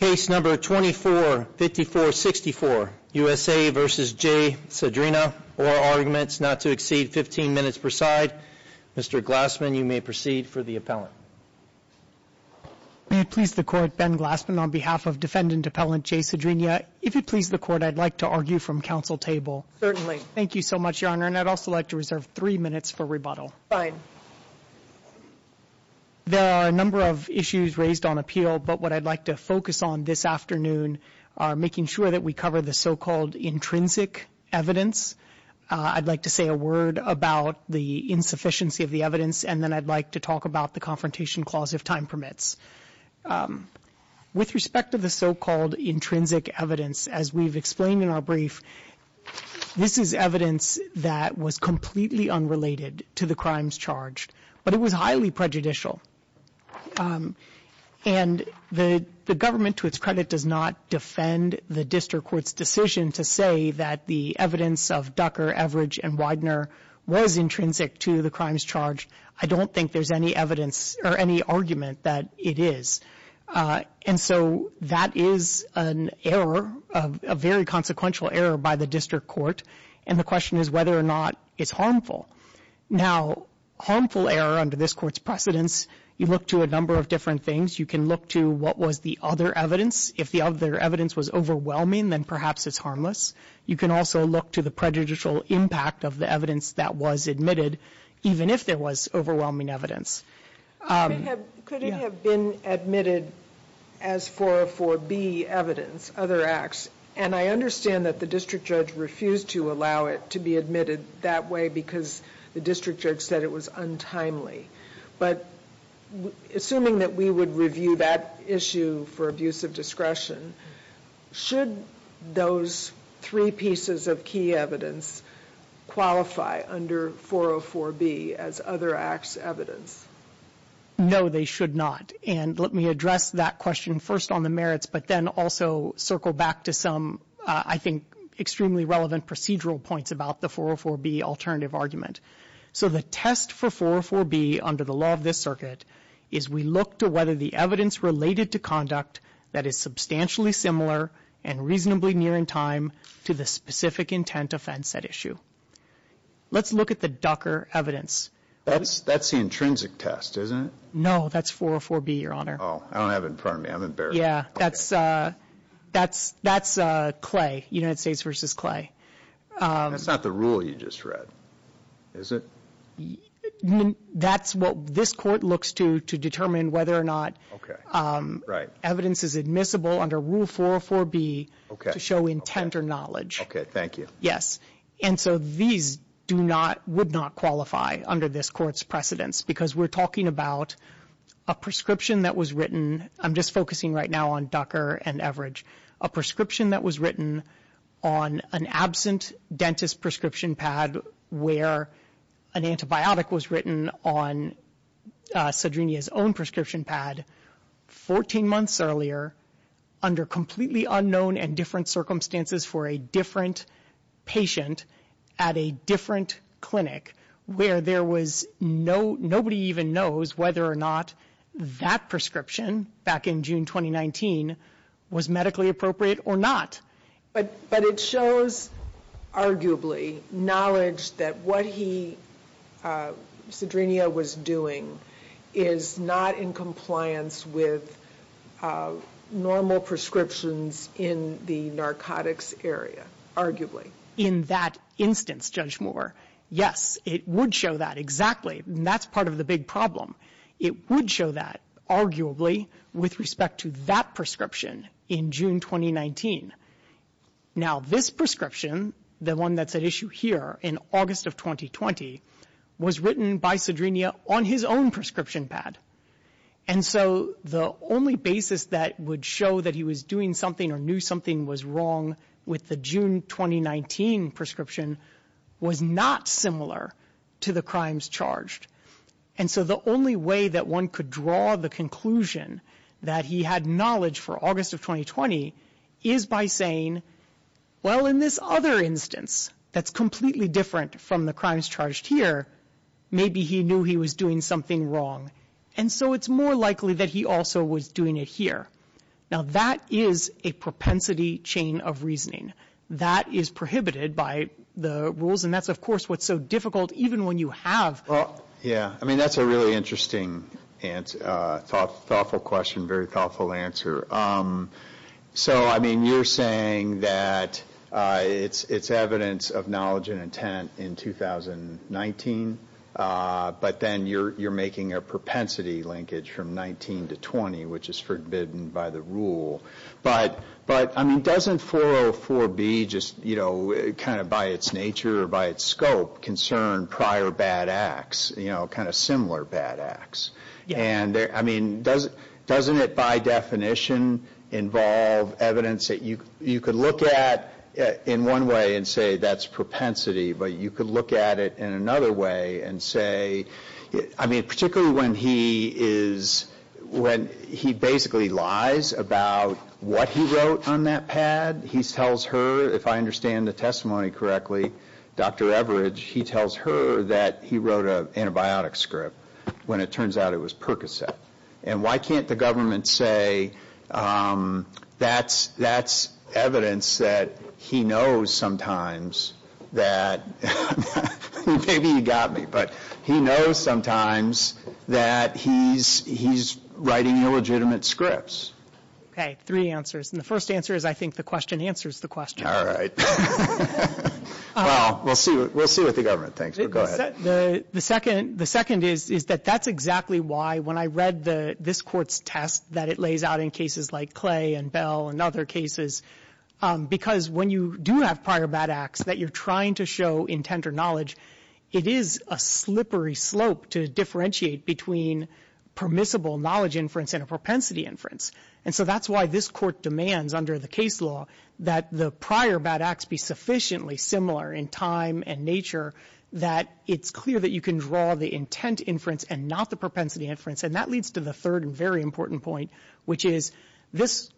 Case number 2454-64 USA v. Jay Sadrinia, oral arguments not to exceed 15 minutes per side. Mr. Glassman, you may proceed for the appellant. May it please the Court, Ben Glassman on behalf of defendant appellant Jay Sadrinia. If it please the Court, I'd like to argue from counsel table. Certainly. Thank you so much, Your Honor, and I'd also like to reserve three minutes for rebuttal. Fine. There are a number of issues raised on appeal, but what I'd like to focus on this afternoon are making sure that we cover the so-called intrinsic evidence. I'd like to say a word about the insufficiency of the evidence, and then I'd like to talk about the Confrontation Clause if time permits. With respect to the so-called intrinsic evidence, as we've explained in our brief, this is evidence that was completely unrelated to the crimes charged, but it was highly prejudicial. And the government, to its credit, does not defend the district court's decision to say that the evidence of Ducker, Everidge, and Widener was intrinsic to the crimes charged. I don't think there's any evidence or any argument that it is. And so that is an error, a very consequential error by the district court, and the question is whether or not it's harmful. Now, harmful error under this Court's precedence, you look to a number of different things. You can look to what was the other evidence. If the other evidence was overwhelming, then perhaps it's harmless. You can also look to the prejudicial impact of the evidence that was admitted, even if there was overwhelming evidence. Could it have been admitted as 404B evidence, other acts? And I understand that the district judge refused to allow it to be admitted that way because the district judge said it was untimely. But assuming that we would review that issue for abuse of discretion, should those three pieces of key evidence qualify under 404B as other acts evidence? No, they should not. And let me address that question first on the merits, but then also circle back to some, I think, extremely relevant procedural points about the 404B alternative argument. So the test for 404B under the law of this circuit is we look to whether the evidence related to conduct that is substantially similar and reasonably near in time to the specific intent offense at issue. Let's look at the Ducker evidence. That's the intrinsic test, isn't it? No, that's 404B, Your Honor. Oh, I don't have it in front of me. I'm embarrassed. Yeah, that's Clay, United States v. Clay. That's not the rule you just read, is it? That's what this court looks to to determine whether or not evidence is admissible under Rule 404B to show intent or knowledge. Okay, thank you. Yes. And so these do not, would not qualify under this court's precedence because we're talking about a prescription that was written. I'm just focusing right now on Ducker and Everidge. A prescription that was written on an absent dentist prescription pad where an antibiotic was written on Cedrinia's own prescription pad 14 months earlier under completely unknown and different circumstances for a different patient at a different clinic where there was no, nobody even knows whether or not that prescription back in June 2019 was medically appropriate or not. But it shows, arguably, knowledge that what he, Cedrinia was doing, is not in compliance with normal prescriptions in the narcotics area, arguably. In that instance, Judge Moore, yes, it would show that, exactly. And that's part of the big problem. It would show that, arguably, with respect to that prescription in June 2019. Now, this prescription, the one that's at issue here in August of 2020, was written by Cedrinia on his own prescription pad. And so the only basis that would show that he was doing something or knew something was wrong with the June 2019 prescription was not similar to the crimes charged. And so the only way that one could draw the conclusion that he had knowledge for August of 2020 is by saying, well, in this other instance that's completely different from the crimes charged here, maybe he knew he was doing something wrong. And so it's more likely that he also was doing it here. Now, that is a propensity chain of reasoning. That is prohibited by the rules, and that's, of course, what's so difficult, even when you have. Well, yeah. I mean, that's a really interesting and thoughtful question, very thoughtful answer. So, I mean, you're saying that it's evidence of knowledge and intent in 2019, but then you're making a propensity linkage from 19 to 20, which is forbidden by the rule. But, I mean, doesn't 404B just, you know, kind of by its nature or by its scope, concern prior bad acts, you know, kind of similar bad acts? I mean, doesn't it by definition involve evidence that you could look at in one way and say that's propensity, but you could look at it in another way and say, I mean, particularly when he basically lies about what he wrote on that pad. He tells her, if I understand the testimony correctly, Dr. Everidge, he tells her that he wrote an antibiotic script when it turns out it was Percocet. And why can't the government say that's evidence that he knows sometimes that, maybe he got me, but he knows sometimes that he's writing illegitimate scripts. Okay, three answers. And the first answer is I think the question answers the question. All right. Well, we'll see what the government thinks, but go ahead. The second is that that's exactly why when I read this court's test that it lays out in cases like Clay and Bell and other cases, because when you do have prior bad acts that you're trying to show intent or knowledge, it is a slippery slope to differentiate between permissible knowledge inference and a propensity inference. And so that's why this court demands under the case law that the prior bad acts be sufficiently similar in time and nature that it's clear that you can draw the intent inference and not the propensity inference. And that leads to the third and very important point, which is this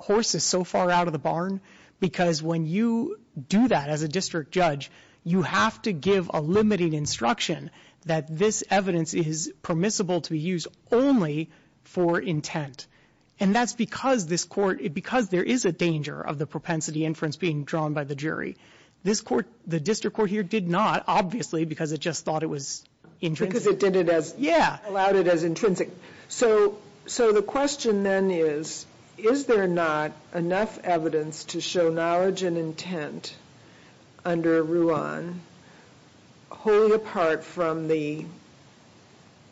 horse is so far out of the barn, because when you do that as a district judge, you have to give a limiting instruction that this evidence is permissible to be used only for intent. And that's because this court, because there is a danger of the propensity inference being drawn by the jury. This court, the district court here, did not, obviously, because it just thought it was intrinsic. Because it did it as, allowed it as intrinsic. So the question then is, is there not enough evidence to show knowledge and intent under Ruan, wholly apart from the,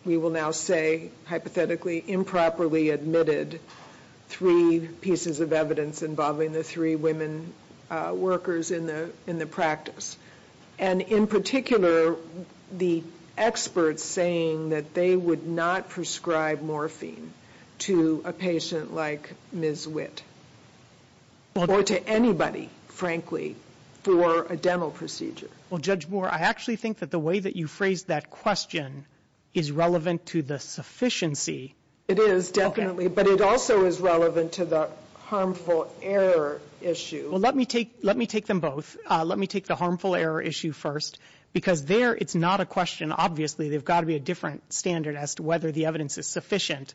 we will now say, hypothetically improperly admitted, three pieces of evidence involving the three women workers in the practice. And in particular, the experts saying that they would not prescribe morphine to a patient like Ms. Witt. Or to anybody, frankly, for a dental procedure. Well, Judge Moore, I actually think that the way that you phrased that question is relevant to the sufficiency. It is, definitely. But it also is relevant to the harmful error issue. Well, let me take them both. Let me take the harmful error issue first. Because there, it's not a question, obviously, they've got to be a different standard as to whether the evidence is sufficient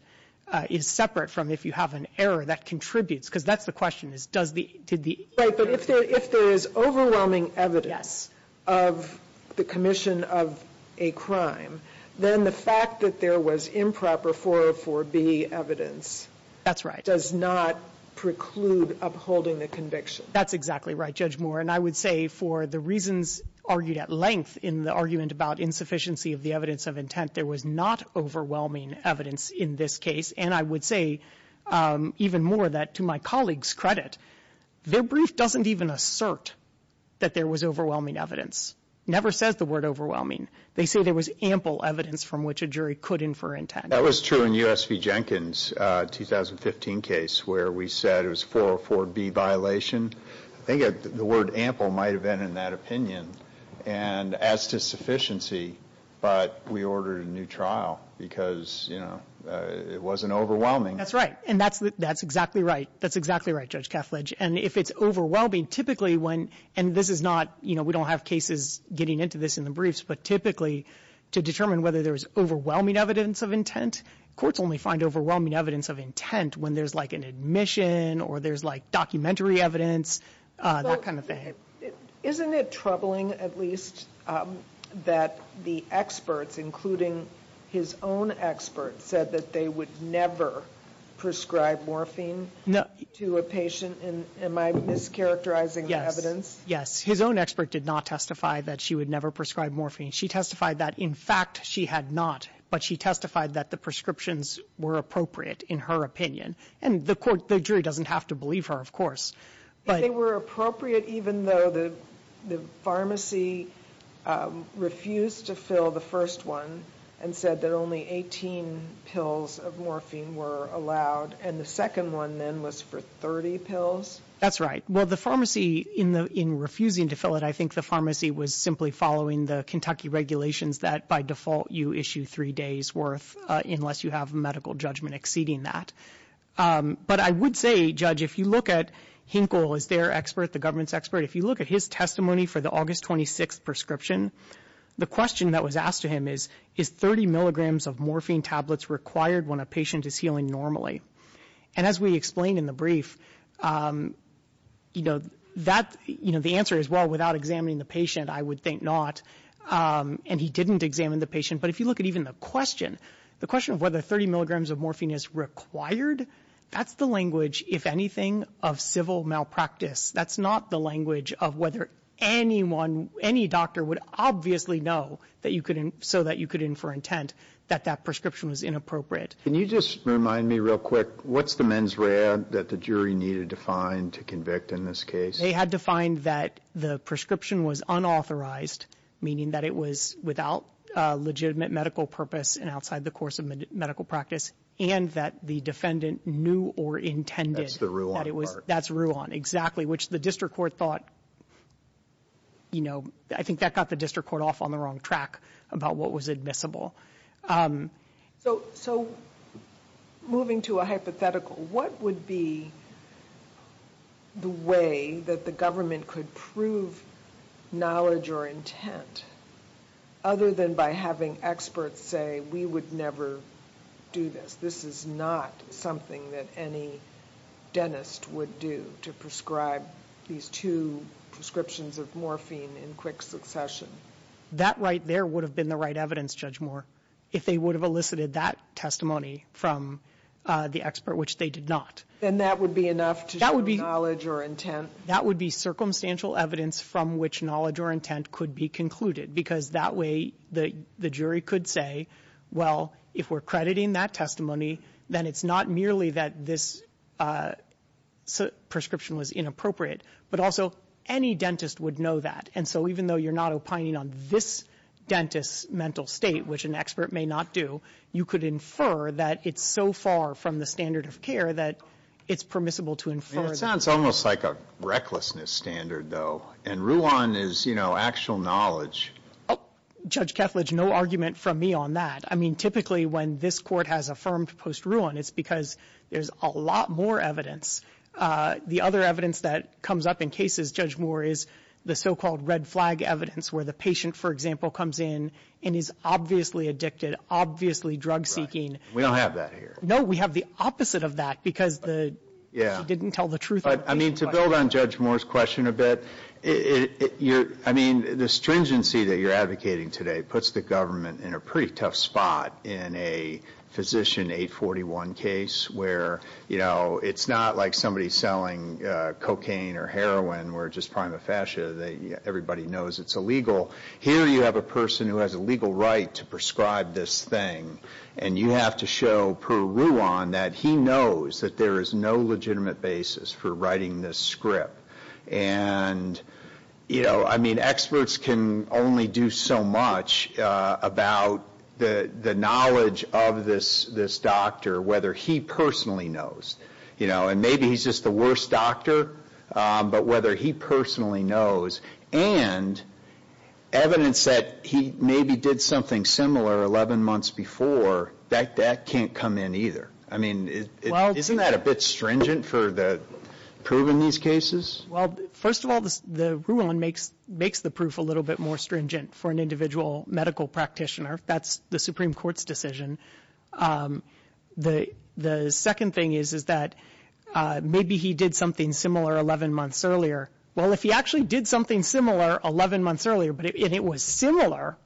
is separate from if you have an error that contributes. Because that's the question, is does the, did the. Right, but if there is overwhelming evidence of the commission of a crime, then the fact that there was improper 404B evidence. That's right. Does not preclude upholding the conviction. That's exactly right, Judge Moore. And I would say for the reasons argued at length in the argument about insufficiency of the evidence of intent, that there was not overwhelming evidence in this case. And I would say even more that, to my colleague's credit, their brief doesn't even assert that there was overwhelming evidence. Never says the word overwhelming. They say there was ample evidence from which a jury could infer intent. That was true in U.S. v. Jenkins' 2015 case where we said it was 404B violation. I think the word ample might have been in that opinion. And as to sufficiency, but we ordered a new trial because, you know, it wasn't overwhelming. That's right. And that's exactly right. That's exactly right, Judge Kethledge. And if it's overwhelming, typically when, and this is not, you know, we don't have cases getting into this in the briefs, but typically to determine whether there's overwhelming evidence of intent, courts only find overwhelming evidence of intent when there's like an admission or there's like documentary evidence, that kind of thing. Isn't it troubling, at least, that the experts, including his own expert, said that they would never prescribe morphine to a patient? Am I mischaracterizing the evidence? Yes. His own expert did not testify that she would never prescribe morphine. She testified that, in fact, she had not, but she testified that the prescriptions were appropriate, in her opinion. And the jury doesn't have to believe her, of course. If they were appropriate even though the pharmacy refused to fill the first one and said that only 18 pills of morphine were allowed and the second one then was for 30 pills? That's right. Well, the pharmacy, in refusing to fill it, I think the pharmacy was simply following the Kentucky regulations that by default you issue three days worth unless you have a medical judgment exceeding that. But I would say, Judge, if you look at Hinkle as their expert, the government's expert, if you look at his testimony for the August 26th prescription, the question that was asked to him is, is 30 milligrams of morphine tablets required when a patient is healing normally? And as we explained in the brief, you know, the answer is, well, without examining the patient, I would think not. And he didn't examine the patient. But if you look at even the question, the question of whether 30 milligrams of morphine is required, that's the language, if anything, of civil malpractice. That's not the language of whether anyone, any doctor would obviously know so that you could infer intent that that prescription was inappropriate. Can you just remind me real quick, what's the mens rea that the jury needed to find to convict in this case? They had to find that the prescription was unauthorized, meaning that it was without legitimate medical purpose and outside the course of medical practice, and that the defendant knew or intended that it was. That's the Ruan part. That's Ruan, exactly, which the district court thought, you know, I think that got the district court off on the wrong track about what was admissible. So moving to a hypothetical, what would be the way that the government could prove knowledge or intent other than by having experts say we would never do this, this is not something that any dentist would do to prescribe these two prescriptions of morphine in quick succession? That right there would have been the right evidence, Judge Moore, if they would have elicited that testimony from the expert, which they did not. Then that would be enough to show knowledge or intent? That would be circumstantial evidence from which knowledge or intent could be concluded because that way the jury could say, well, if we're crediting that testimony, then it's not merely that this prescription was inappropriate, but also any dentist would know that. And so even though you're not opining on this dentist's mental state, which an expert may not do, you could infer that it's so far from the standard of care that it's permissible to infer. It sounds almost like a recklessness standard, though. And Ruan is, you know, actual knowledge. Judge Kethledge, no argument from me on that. I mean, typically when this court has affirmed post-Ruan, it's because there's a lot more evidence. The other evidence that comes up in cases, Judge Moore, is the so-called red flag evidence where the patient, for example, comes in and is obviously addicted, obviously drug-seeking. We don't have that here. No, we have the opposite of that because the judge didn't tell the truth. I mean, to build on Judge Moore's question a bit, I mean, the stringency that you're advocating today puts the government in a pretty tough spot in a Physician 841 case where, you know, it's not like somebody selling cocaine or heroin or just prima facie. Everybody knows it's illegal. Here you have a person who has a legal right to prescribe this thing, and you have to show per Ruan that he knows that there is no legitimate basis for writing this script. And, you know, I mean, experts can only do so much about the knowledge of this doctor, whether he personally knows. You know, and maybe he's just the worst doctor, but whether he personally knows. And evidence that he maybe did something similar 11 months before, that can't come in either. I mean, isn't that a bit stringent for the proof in these cases? Well, first of all, the Ruan makes the proof a little bit more stringent for an individual medical practitioner. That's the Supreme Court's decision. The second thing is that maybe he did something similar 11 months earlier. Well, if he actually did something similar 11 months earlier, and it was similar,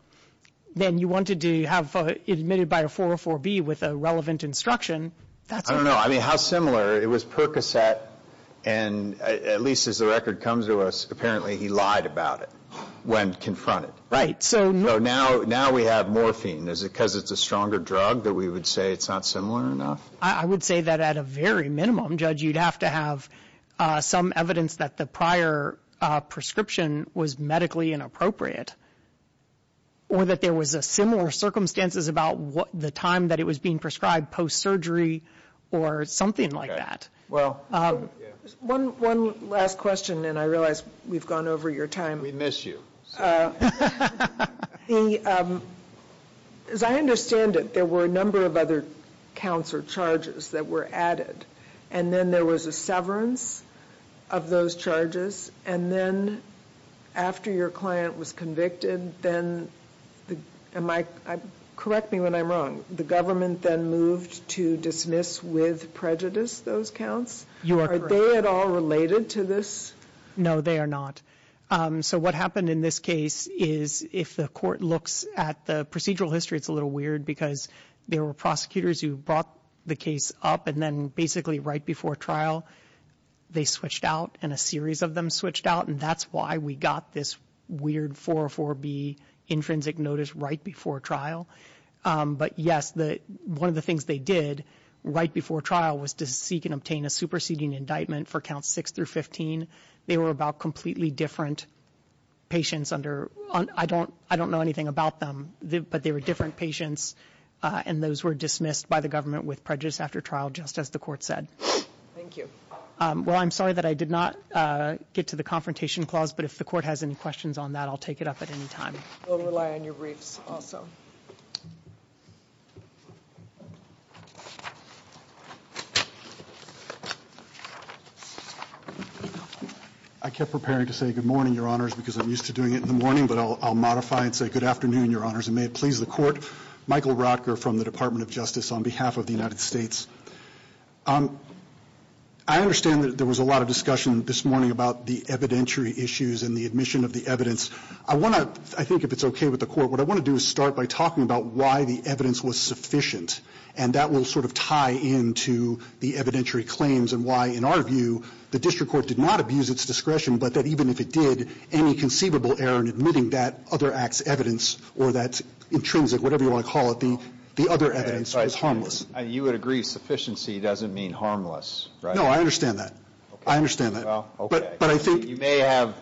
then you wanted to have it admitted by a 404B with a relevant instruction. I don't know. I mean, how similar? It was Percocet, and at least as the record comes to us, apparently he lied about it when confronted. Right. So now we have morphine. Is it because it's a stronger drug that we would say it's not similar enough? I would say that at a very minimum, Judge, you'd have to have some evidence that the prior prescription was medically inappropriate, or that there was similar circumstances about the time that it was being prescribed post-surgery or something like that. One last question, and I realize we've gone over your time. We miss you. As I understand it, there were a number of other counts or charges that were added, and then there was a severance of those charges, and then after your client was convicted, then am I correct me when I'm wrong, the government then moved to dismiss with prejudice those counts? You are correct. Are they at all related to this? No, they are not. So what happened in this case is if the court looks at the procedural history, it's a little weird because there were prosecutors who brought the case up and then basically right before trial they switched out and a series of them switched out, and that's why we got this weird 404B intrinsic notice right before trial. But, yes, one of the things they did right before trial was to seek and obtain a superseding indictment for Counts 6 through 15. They were about completely different patients. I don't know anything about them, but they were different patients, and those were dismissed by the government with prejudice after trial, just as the court said. Thank you. Well, I'm sorry that I did not get to the confrontation clause, but if the court has any questions on that I'll take it up at any time. We'll rely on your briefs also. I kept preparing to say good morning, Your Honors, because I'm used to doing it in the morning, but I'll modify and say good afternoon, Your Honors, and may it please the Court. Michael Rotker from the Department of Justice on behalf of the United States. I understand that there was a lot of discussion this morning about the evidentiary issues and the admission of the evidence. I want to, I think if it's okay with the Court, what I want to do is start by talking about why the evidence was sufficient, and that will sort of tie into the evidentiary claims and why, in our view, the district court did not abuse its discretion, but that even if it did, any conceivable error in admitting that other act's evidence or that intrinsic, whatever you want to call it, the other evidence was harmless. You would agree sufficiency doesn't mean harmless, right? No, I understand that. I understand that. Well, okay. You may have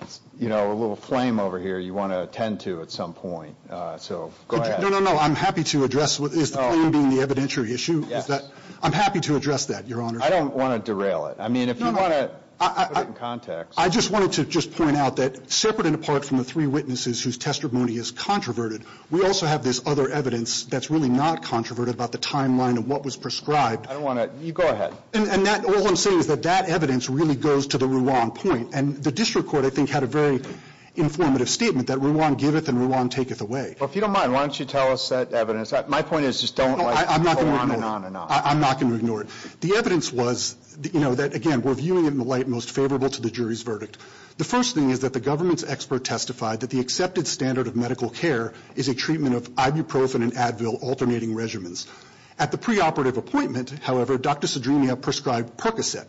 a little flame over here you want to attend to at some point, so go ahead. No, no, no. I'm happy to address, is the flame being the evidentiary issue? Yes. I'm happy to address that, Your Honors. I don't want to derail it. I mean, if you want to put it in context. I just wanted to just point out that separate and apart from the three witnesses whose testimony is controverted, we also have this other evidence that's really not controverted about the timeline of what was prescribed. I don't want to. You go ahead. And that, all I'm saying is that that evidence really goes to the Ruan point, and the district court, I think, had a very informative statement, that Ruan giveth and Ruan taketh away. Well, if you don't mind, why don't you tell us that evidence. My point is just don't like go on and on and on. I'm not going to ignore it. The evidence was, you know, that, again, we're viewing it in the light most favorable to the jury's verdict. The first thing is that the government's expert testified that the accepted standard of medical care is a treatment of ibuprofen and Advil alternating regimens. At the preoperative appointment, however, Dr. Cedrinia prescribed Percocet.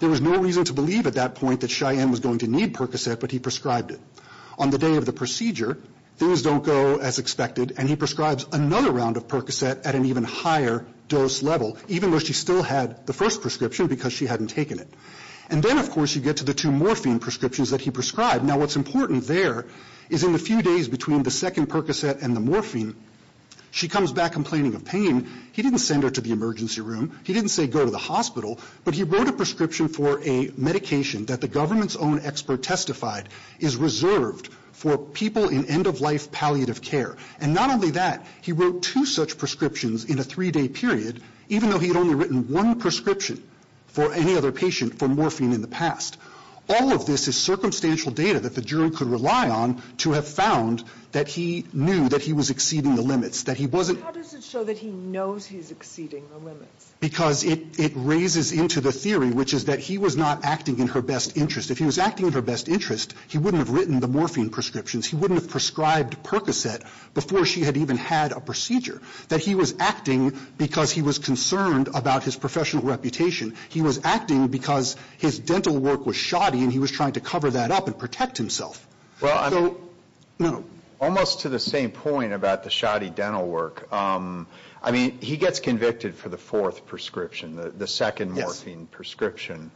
There was no reason to believe at that point that Cheyenne was going to need Percocet, but he prescribed it. On the day of the procedure, things don't go as expected, and he prescribes another round of Percocet at an even higher dose level, even though she still had the first prescription because she hadn't taken it. And then, of course, you get to the two morphine prescriptions that he prescribed. Now, what's important there is in the few days between the second Percocet and the morphine, she comes back complaining of pain. He didn't send her to the emergency room. He didn't say go to the hospital. But he wrote a prescription for a medication that the government's own expert testified is reserved for people in end-of-life palliative care. And not only that, he wrote two such prescriptions in a three-day period, even though he had only written one prescription for any other patient for morphine in the past. All of this is circumstantial data that the jury could rely on to have found that he knew that he was exceeding the limits, that he wasn't... How does it show that he knows he's exceeding the limits? Because it raises into the theory, which is that he was not acting in her best interest. If he was acting in her best interest, he wouldn't have written the morphine prescriptions. He wouldn't have prescribed Percocet before she had even had a procedure. That he was acting because he was concerned about his professional reputation. He was acting because his dental work was shoddy, and he was trying to cover that up and protect himself. So, no. Almost to the same point about the shoddy dental work, I mean, he gets convicted for the fourth prescription, the second morphine prescription.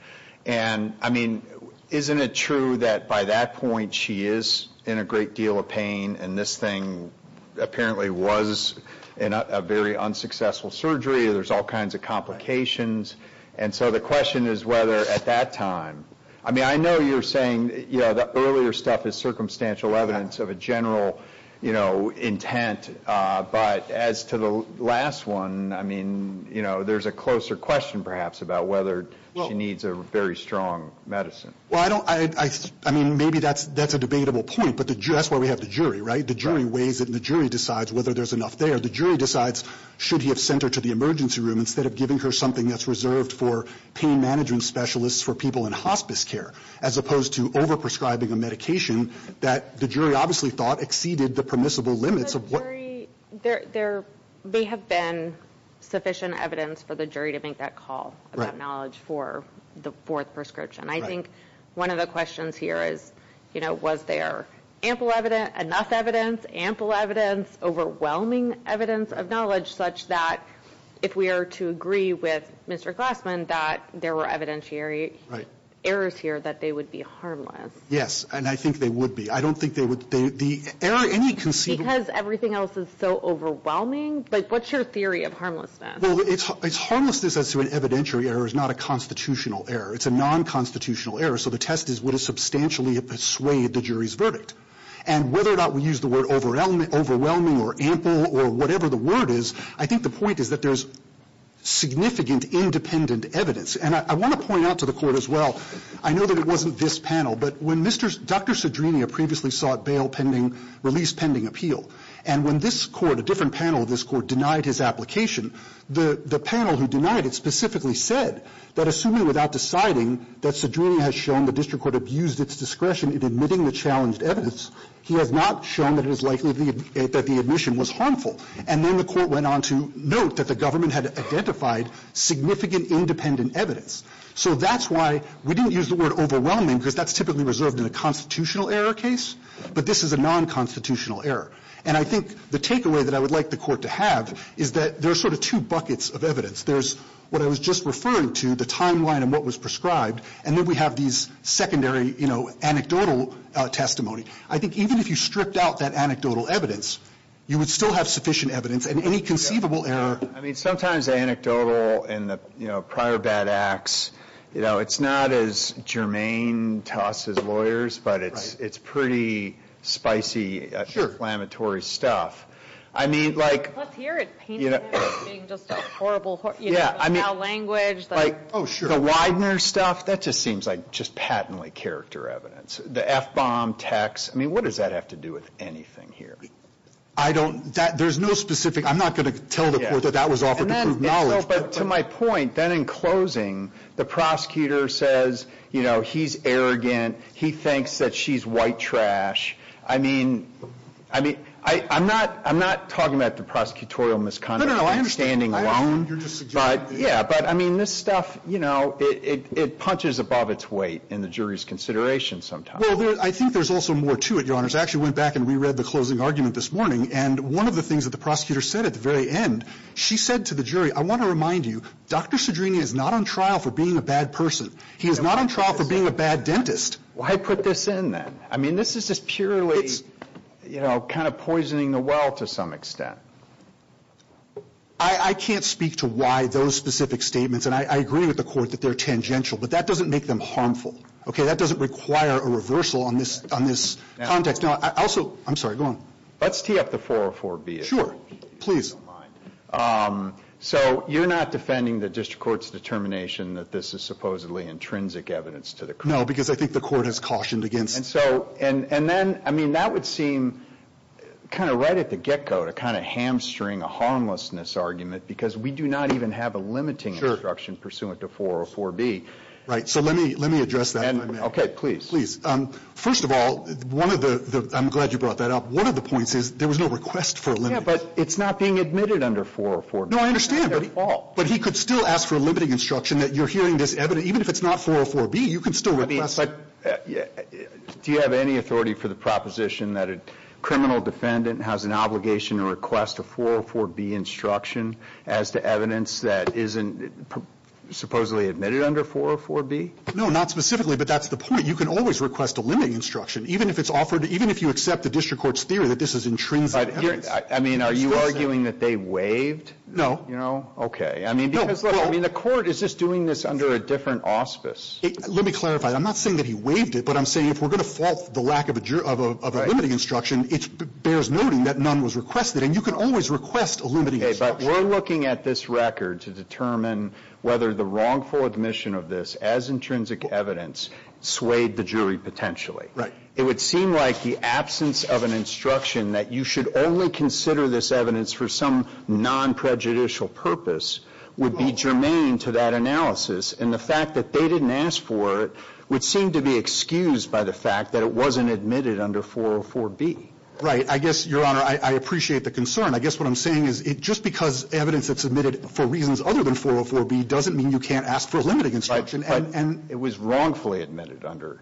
And, I mean, isn't it true that by that point she is in a great deal of pain, and this thing apparently was a very unsuccessful surgery? There's all kinds of complications. And so the question is whether at that time... I mean, I know you're saying, you know, the earlier stuff is circumstantial evidence of a general, you know, intent. But as to the last one, I mean, you know, there's a closer question, perhaps, about whether she needs a very strong medicine. Well, I don't... I mean, maybe that's a debatable point. But that's why we have the jury, right? The jury weighs it, and the jury decides whether there's enough there. The jury decides should he have sent her to the emergency room instead of giving her something that's reserved for pain management specialists for people in hospice care, as opposed to overprescribing a medication that the jury obviously thought exceeded the permissible limits of what... There may have been sufficient evidence for the jury to make that call about knowledge for the fourth prescription. I think one of the questions here is, you know, was there ample evidence, enough evidence, ample evidence, overwhelming evidence of knowledge such that if we are to agree with Mr. Glassman that there were evidentiary errors here that they would be harmless? Yes, and I think they would be. I don't think they would... Because everything else is so overwhelming? Like, what's your theory of harmlessness? Well, it's harmlessness as to an evidentiary error is not a constitutional error. It's a non-constitutional error. So the test is would it substantially persuade the jury's verdict. And whether or not we use the word overwhelming or ample or whatever the word is, I think the point is that there's significant independent evidence. And I want to point out to the court as well, I know that it wasn't this panel, but when Mr. Dr. Cedrini previously sought bail pending, release pending appeal, and when this court, a different panel of this court, denied his application, the panel who denied it specifically said that assuming without deciding that Cedrini has shown the district court abused its discretion in admitting the challenged evidence, he has not shown that it is likely that the admission was harmful. And then the court went on to note that the government had identified significant independent evidence. So that's why we didn't use the word overwhelming because that's typically reserved in a constitutional error case, but this is a non-constitutional error. And I think the takeaway that I would like the court to have is that there are sort of two buckets of evidence. There's what I was just referring to, the timeline and what was prescribed, and then we have these secondary, you know, anecdotal testimony. I think even if you stripped out that anecdotal evidence, you would still have sufficient evidence and any conceivable error. I mean, sometimes anecdotal and, you know, prior bad acts, you know, it's not as germane to us as lawyers, but it's pretty spicy, exclamatory stuff. I mean, like. Let's hear it. You know. Just a horrible, you know, foul language. Oh, sure. The Widener stuff, that just seems like just patently character evidence. The F-bomb text, I mean, what does that have to do with anything here? I don't, there's no specific. I'm not going to tell the court that that was offered to prove knowledge. But to my point, then in closing, the prosecutor says, you know, he's arrogant. He thinks that she's white trash. I mean, I mean, I'm not, I'm not talking about the prosecutorial misconduct. No, no, I understand. I'm standing alone. But, yeah, but I mean, this stuff, you know, it punches above its weight in the jury's consideration sometimes. Well, I think there's also more to it, Your Honors. I actually went back and reread the closing argument this morning, and one of the things the prosecutor said at the very end, she said to the jury, I want to remind you, Dr. Cedrini is not on trial for being a bad person. He is not on trial for being a bad dentist. Why put this in, then? I mean, this is just purely, you know, kind of poisoning the well to some extent. I can't speak to why those specific statements, and I agree with the court that they're tangential, but that doesn't make them harmful. Okay? That doesn't require a reversal on this context. Now, also, I'm sorry, go on. Let's tee up the 404-B. Sure. Please. So you're not defending the district court's determination that this is supposedly intrinsic evidence to the court? No, because I think the court has cautioned against it. And so, and then, I mean, that would seem kind of right at the get-go, to kind of hamstring a harmlessness argument, because we do not even have a limiting instruction pursuant to 404-B. Right. So let me address that. Okay. Please. Please. First of all, one of the, I'm glad you brought that up, one of the points is there was no request for a limiting instruction. Yeah, but it's not being admitted under 404-B. No, I understand. But he could still ask for a limiting instruction that you're hearing this evidence, even if it's not 404-B, you can still review it. Do you have any authority for the proposition that a criminal defendant has an obligation to request a 404-B instruction as to evidence that isn't supposedly admitted under 404-B? No, not specifically, but that's the point. You can always request a limiting instruction, even if it's offered, even if you accept the district court's theory that this is intrinsic evidence. But, I mean, are you arguing that they waived? No. Okay. I mean, because, look, the court is just doing this under a different auspice. Let me clarify. I'm not saying that he waived it, but I'm saying if we're going to fault the lack of a limiting instruction, it bears noting that none was requested, and you can always request a limiting instruction. Okay. But we're looking at this record to determine whether the wrongful admission of this as intrinsic evidence swayed the jury potentially. Right. It would seem like the absence of an instruction that you should only consider this evidence for some non-prejudicial purpose would be germane to that analysis, and the fact that they didn't ask for it would seem to be excused by the fact that it wasn't admitted under 404-B. Right. I guess, Your Honor, I appreciate the concern. I guess what I'm saying is just because evidence that's admitted for reasons other than 404-B doesn't mean you can't ask for a limiting instruction. But it was wrongfully admitted under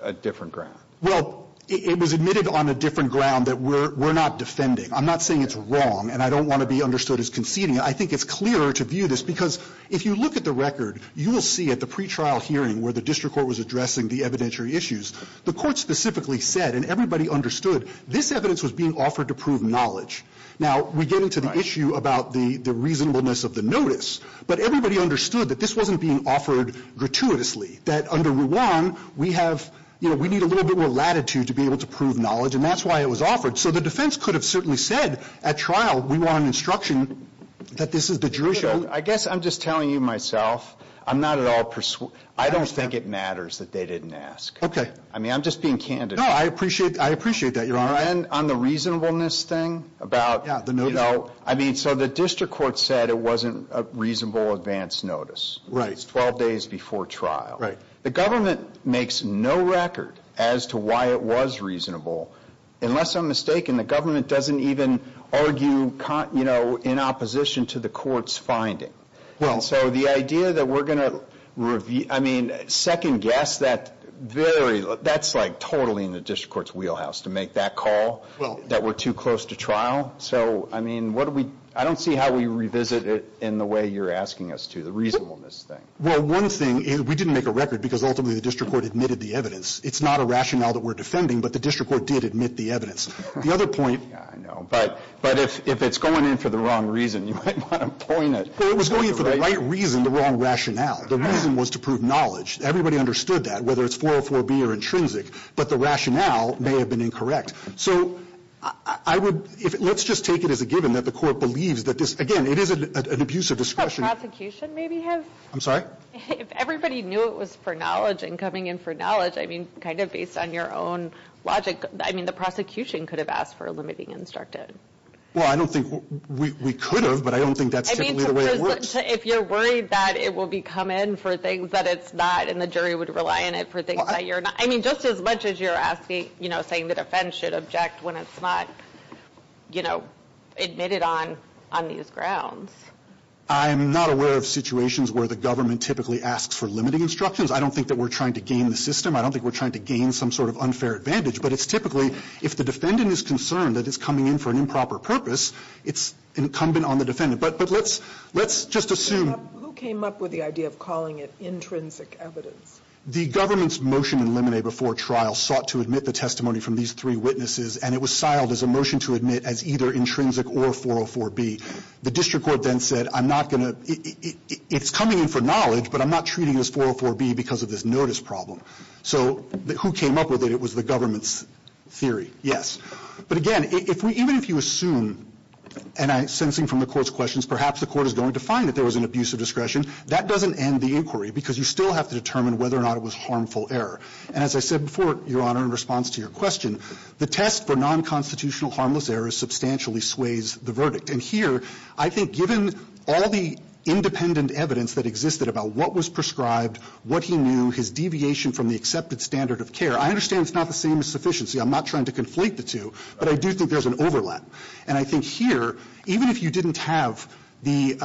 a different ground. Well, it was admitted on a different ground that we're not defending. I'm not saying it's wrong, and I don't want to be understood as conceding. I think it's clearer to view this because if you look at the record, you will see at the pretrial hearing where the district court was addressing the evidentiary issues, the court specifically said, and everybody understood, this evidence was being offered to prove knowledge. Now, we get into the issue about the reasonableness of the notice, but everybody understood that this wasn't being offered gratuitously, that under Ruan, we have, you know, we need a little bit more latitude to be able to prove knowledge, and that's why it was offered. So the defense could have certainly said at trial, we want an instruction that this is the jurisdiction. I guess I'm just telling you myself. I'm not at all persuasive. I don't think it matters that they didn't ask. Okay. I mean, I'm just being candid. No, I appreciate that, Your Honor. And on the reasonableness thing about, you know, I mean, so the district court said it wasn't a reasonable advance notice. It's 12 days before trial. Right. The government makes no record as to why it was reasonable, unless I'm mistaken, the government doesn't even argue, you know, in opposition to the court's finding. Well. So the idea that we're going to, I mean, second guess that very, that's like totally in the district court's wheelhouse to make that call that we're too close to trial. So, I mean, what do we, I don't see how we revisit it in the way you're asking us to, the reasonableness thing. Well, one thing, we didn't make a record because ultimately the district court admitted the evidence. It's not a rationale that we're defending, but the district court did admit the evidence. The other point. Yeah, I know. But if it's going in for the wrong reason, you might want to point it. Well, it was going in for the right reason, the wrong rationale. The reason was to prove knowledge. Everybody understood that, whether it's 404B or intrinsic. But the rationale may have been incorrect. So, I would, let's just take it as a given that the court believes that this, again, it is an abuse of discretion. The prosecution maybe has. I'm sorry? If everybody knew it was for knowledge and coming in for knowledge, I mean, kind of based on your own logic, I mean, the prosecution could have asked for a limiting instructive. Well, I don't think we could have, but I don't think that's typically the way it works. I mean, if you're worried that it will be come in for things that it's not and the jury would rely on it for things that you're not. I mean, just as much as you're asking, you know, saying the defense should object when it's not, you know, admitted on these grounds. I'm not aware of situations where the government typically asks for limiting instructions. I don't think that we're trying to gain the system. I don't think we're trying to gain some sort of unfair advantage. But it's typically, if the defendant is concerned that it's coming in for an improper purpose, it's incumbent on the defendant. But let's just assume. Who came up with the idea of calling it intrinsic evidence? The government's motion in limine before trial sought to admit the testimony from these three witnesses, and it was siled as a motion to admit as either intrinsic or 404B. The district court then said, I'm not going to – it's coming in for knowledge, but I'm not treating it as 404B because of this notice problem. So who came up with it? It was the government's theory, yes. But, again, even if you assume, and I'm sensing from the court's questions, perhaps the court is going to find that there was an abuse of discretion, that doesn't end the inquiry because you still have to determine whether or not it was harmful error. And as I said before, Your Honor, in response to your question, the test for nonconstitutional harmless errors substantially sways the verdict. And here, I think given all the independent evidence that existed about what was prescribed, what he knew, his deviation from the accepted standard of care, I understand it's not the same as sufficiency. I'm not trying to conflate the two, but I do think there's an overlap. And I think here, even if you didn't have the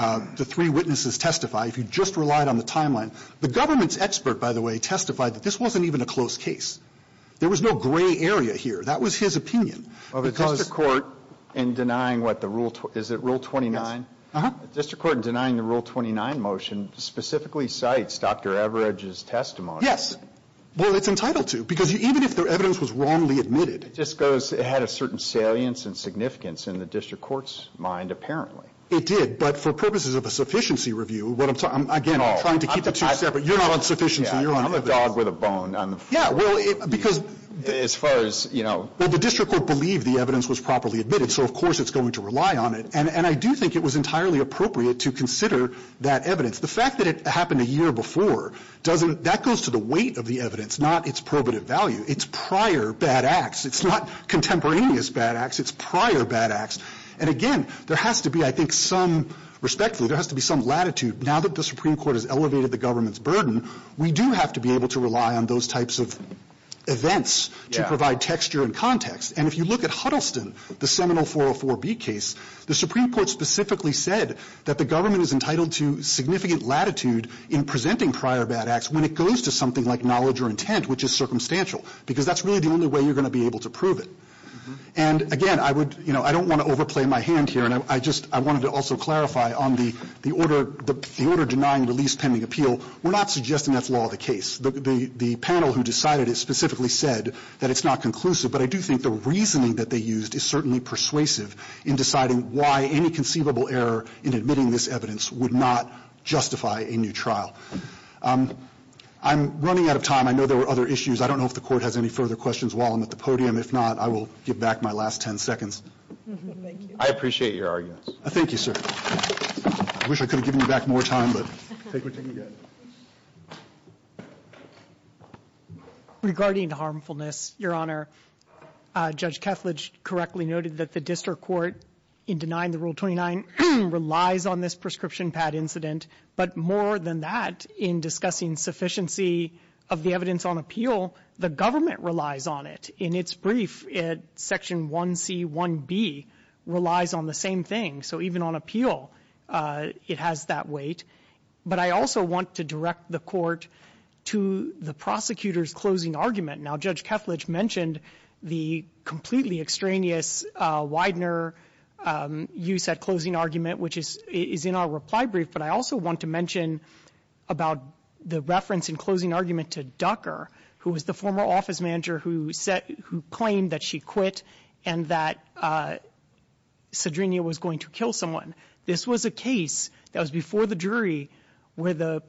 three witnesses testify, if you just relied on the timeline, the government's expert, by the way, testified that this wasn't even a close case. There was no gray area here. That was his opinion. Because the court in denying what the rule, is it Rule 29? Uh-huh. The district court in denying the Rule 29 motion specifically cites Dr. Everidge's testimony. Yes. Well, it's entitled to, because even if the evidence was wrongly admitted. It just goes, it had a certain salience and significance in the district court's mind, apparently. It did, but for purposes of a sufficiency review, what I'm talking about, again, I'm trying to keep the two separate. You're not on sufficiency. You're on evidence. I'm a dog with a bone on the floor. Yeah, well, because. As far as, you know. Well, the district court believed the evidence was properly admitted, so of course it's going to rely on it. And I do think it was entirely appropriate to consider that evidence. The fact that it happened a year before doesn't, that goes to the weight of the evidence, not its probative value. It's prior bad acts. It's not contemporaneous bad acts. It's prior bad acts. And again, there has to be, I think, some, respectfully, there has to be some latitude. Now that the Supreme Court has elevated the government's burden, we do have to be able to rely on those types of events to provide texture and context. And if you look at Huddleston, the Seminole 404B case, the Supreme Court specifically said that the government is entitled to significant latitude in presenting prior bad acts when it goes to something like knowledge or intent, which is circumstantial, because that's really the only way you're going to be able to prove it. And again, I would, you know, I don't want to overplay my hand here, and I just, I wanted to also clarify on the order denying release pending appeal, we're not suggesting that's law of the case. The panel who decided it specifically said that it's not conclusive, but I do think the reasoning that they used is certainly persuasive in deciding why any conceivable error in admitting this evidence would not justify a new trial. I'm running out of time. I know there were other issues. I don't know if the Court has any further questions while I'm at the podium. If not, I will give back my last ten seconds. Thank you. I appreciate your arguments. Thank you, sir. I wish I could have given you back more time, but take what you can get. Regarding the harmfulness, Your Honor, Judge Kethledge correctly noted that the district court, in denying the Rule 29, relies on this prescription pad incident. But more than that, in discussing sufficiency of the evidence on appeal, the government relies on it. And in its brief, it's section 1C, 1B, relies on the same thing. So even on appeal, it has that weight. But I also want to direct the Court to the prosecutor's closing argument. Now, Judge Kethledge mentioned the completely extraneous Widener use at closing argument, which is in our reply brief, but I also want to mention about the reference in closing argument to Ducker, who was the former office manager who claimed that she quit and that Cedrinia was going to kill someone. This was a case that was before the jury where the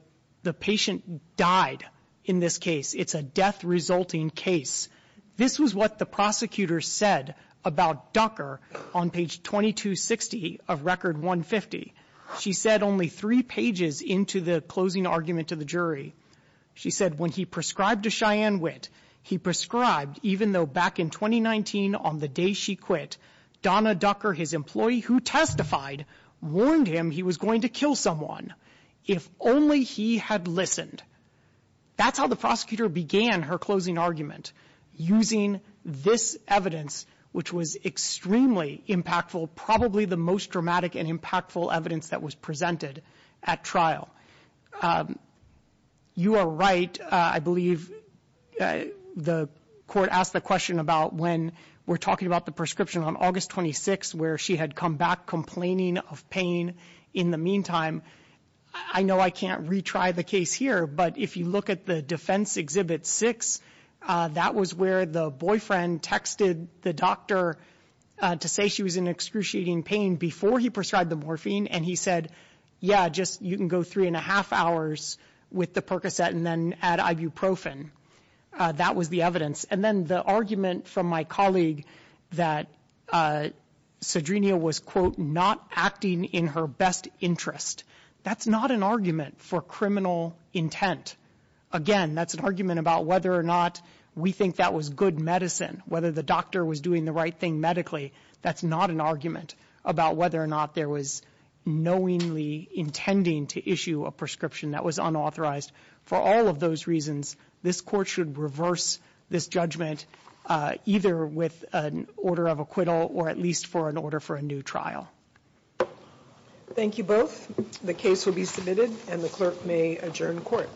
patient died in this case. It's a death-resulting case. This was what the prosecutor said about Ducker on page 2260 of Record 150. She said only three pages into the closing argument to the jury, she said, when he prescribed a Cheyenne wit, he prescribed, even though back in 2019, on the day she quit, Donna Ducker, his employee who testified, warned him he was going to kill someone if only he had listened. That's how the prosecutor began her closing argument, using this evidence, which was extremely impactful, probably the most dramatic and impactful evidence that was presented at trial. You are right. I believe the Court asked the question about when we're talking about the prescription on August 26 where she had come back complaining of pain. In the meantime, I know I can't retry the case here, but if you look at the defense Exhibit 6, that was where the boyfriend texted the doctor to say she was in excruciating pain before he prescribed the morphine, and he said, yeah, just you can go three and a half hours with the Percocet and then add ibuprofen. That was the evidence. And then the argument from my colleague that Cedrinia was, quote, not acting in her best interest. That's not an argument for criminal intent. Again, that's an argument about whether or not we think that was good medicine, whether the doctor was doing the right thing medically. That's not an argument about whether or not there was knowingly intending to issue a prescription that was unauthorized. For all of those reasons, this Court should reverse this judgment, either with an order of acquittal or at least for an order for a new trial. Thank you both. The case will be submitted, and the clerk may adjourn court.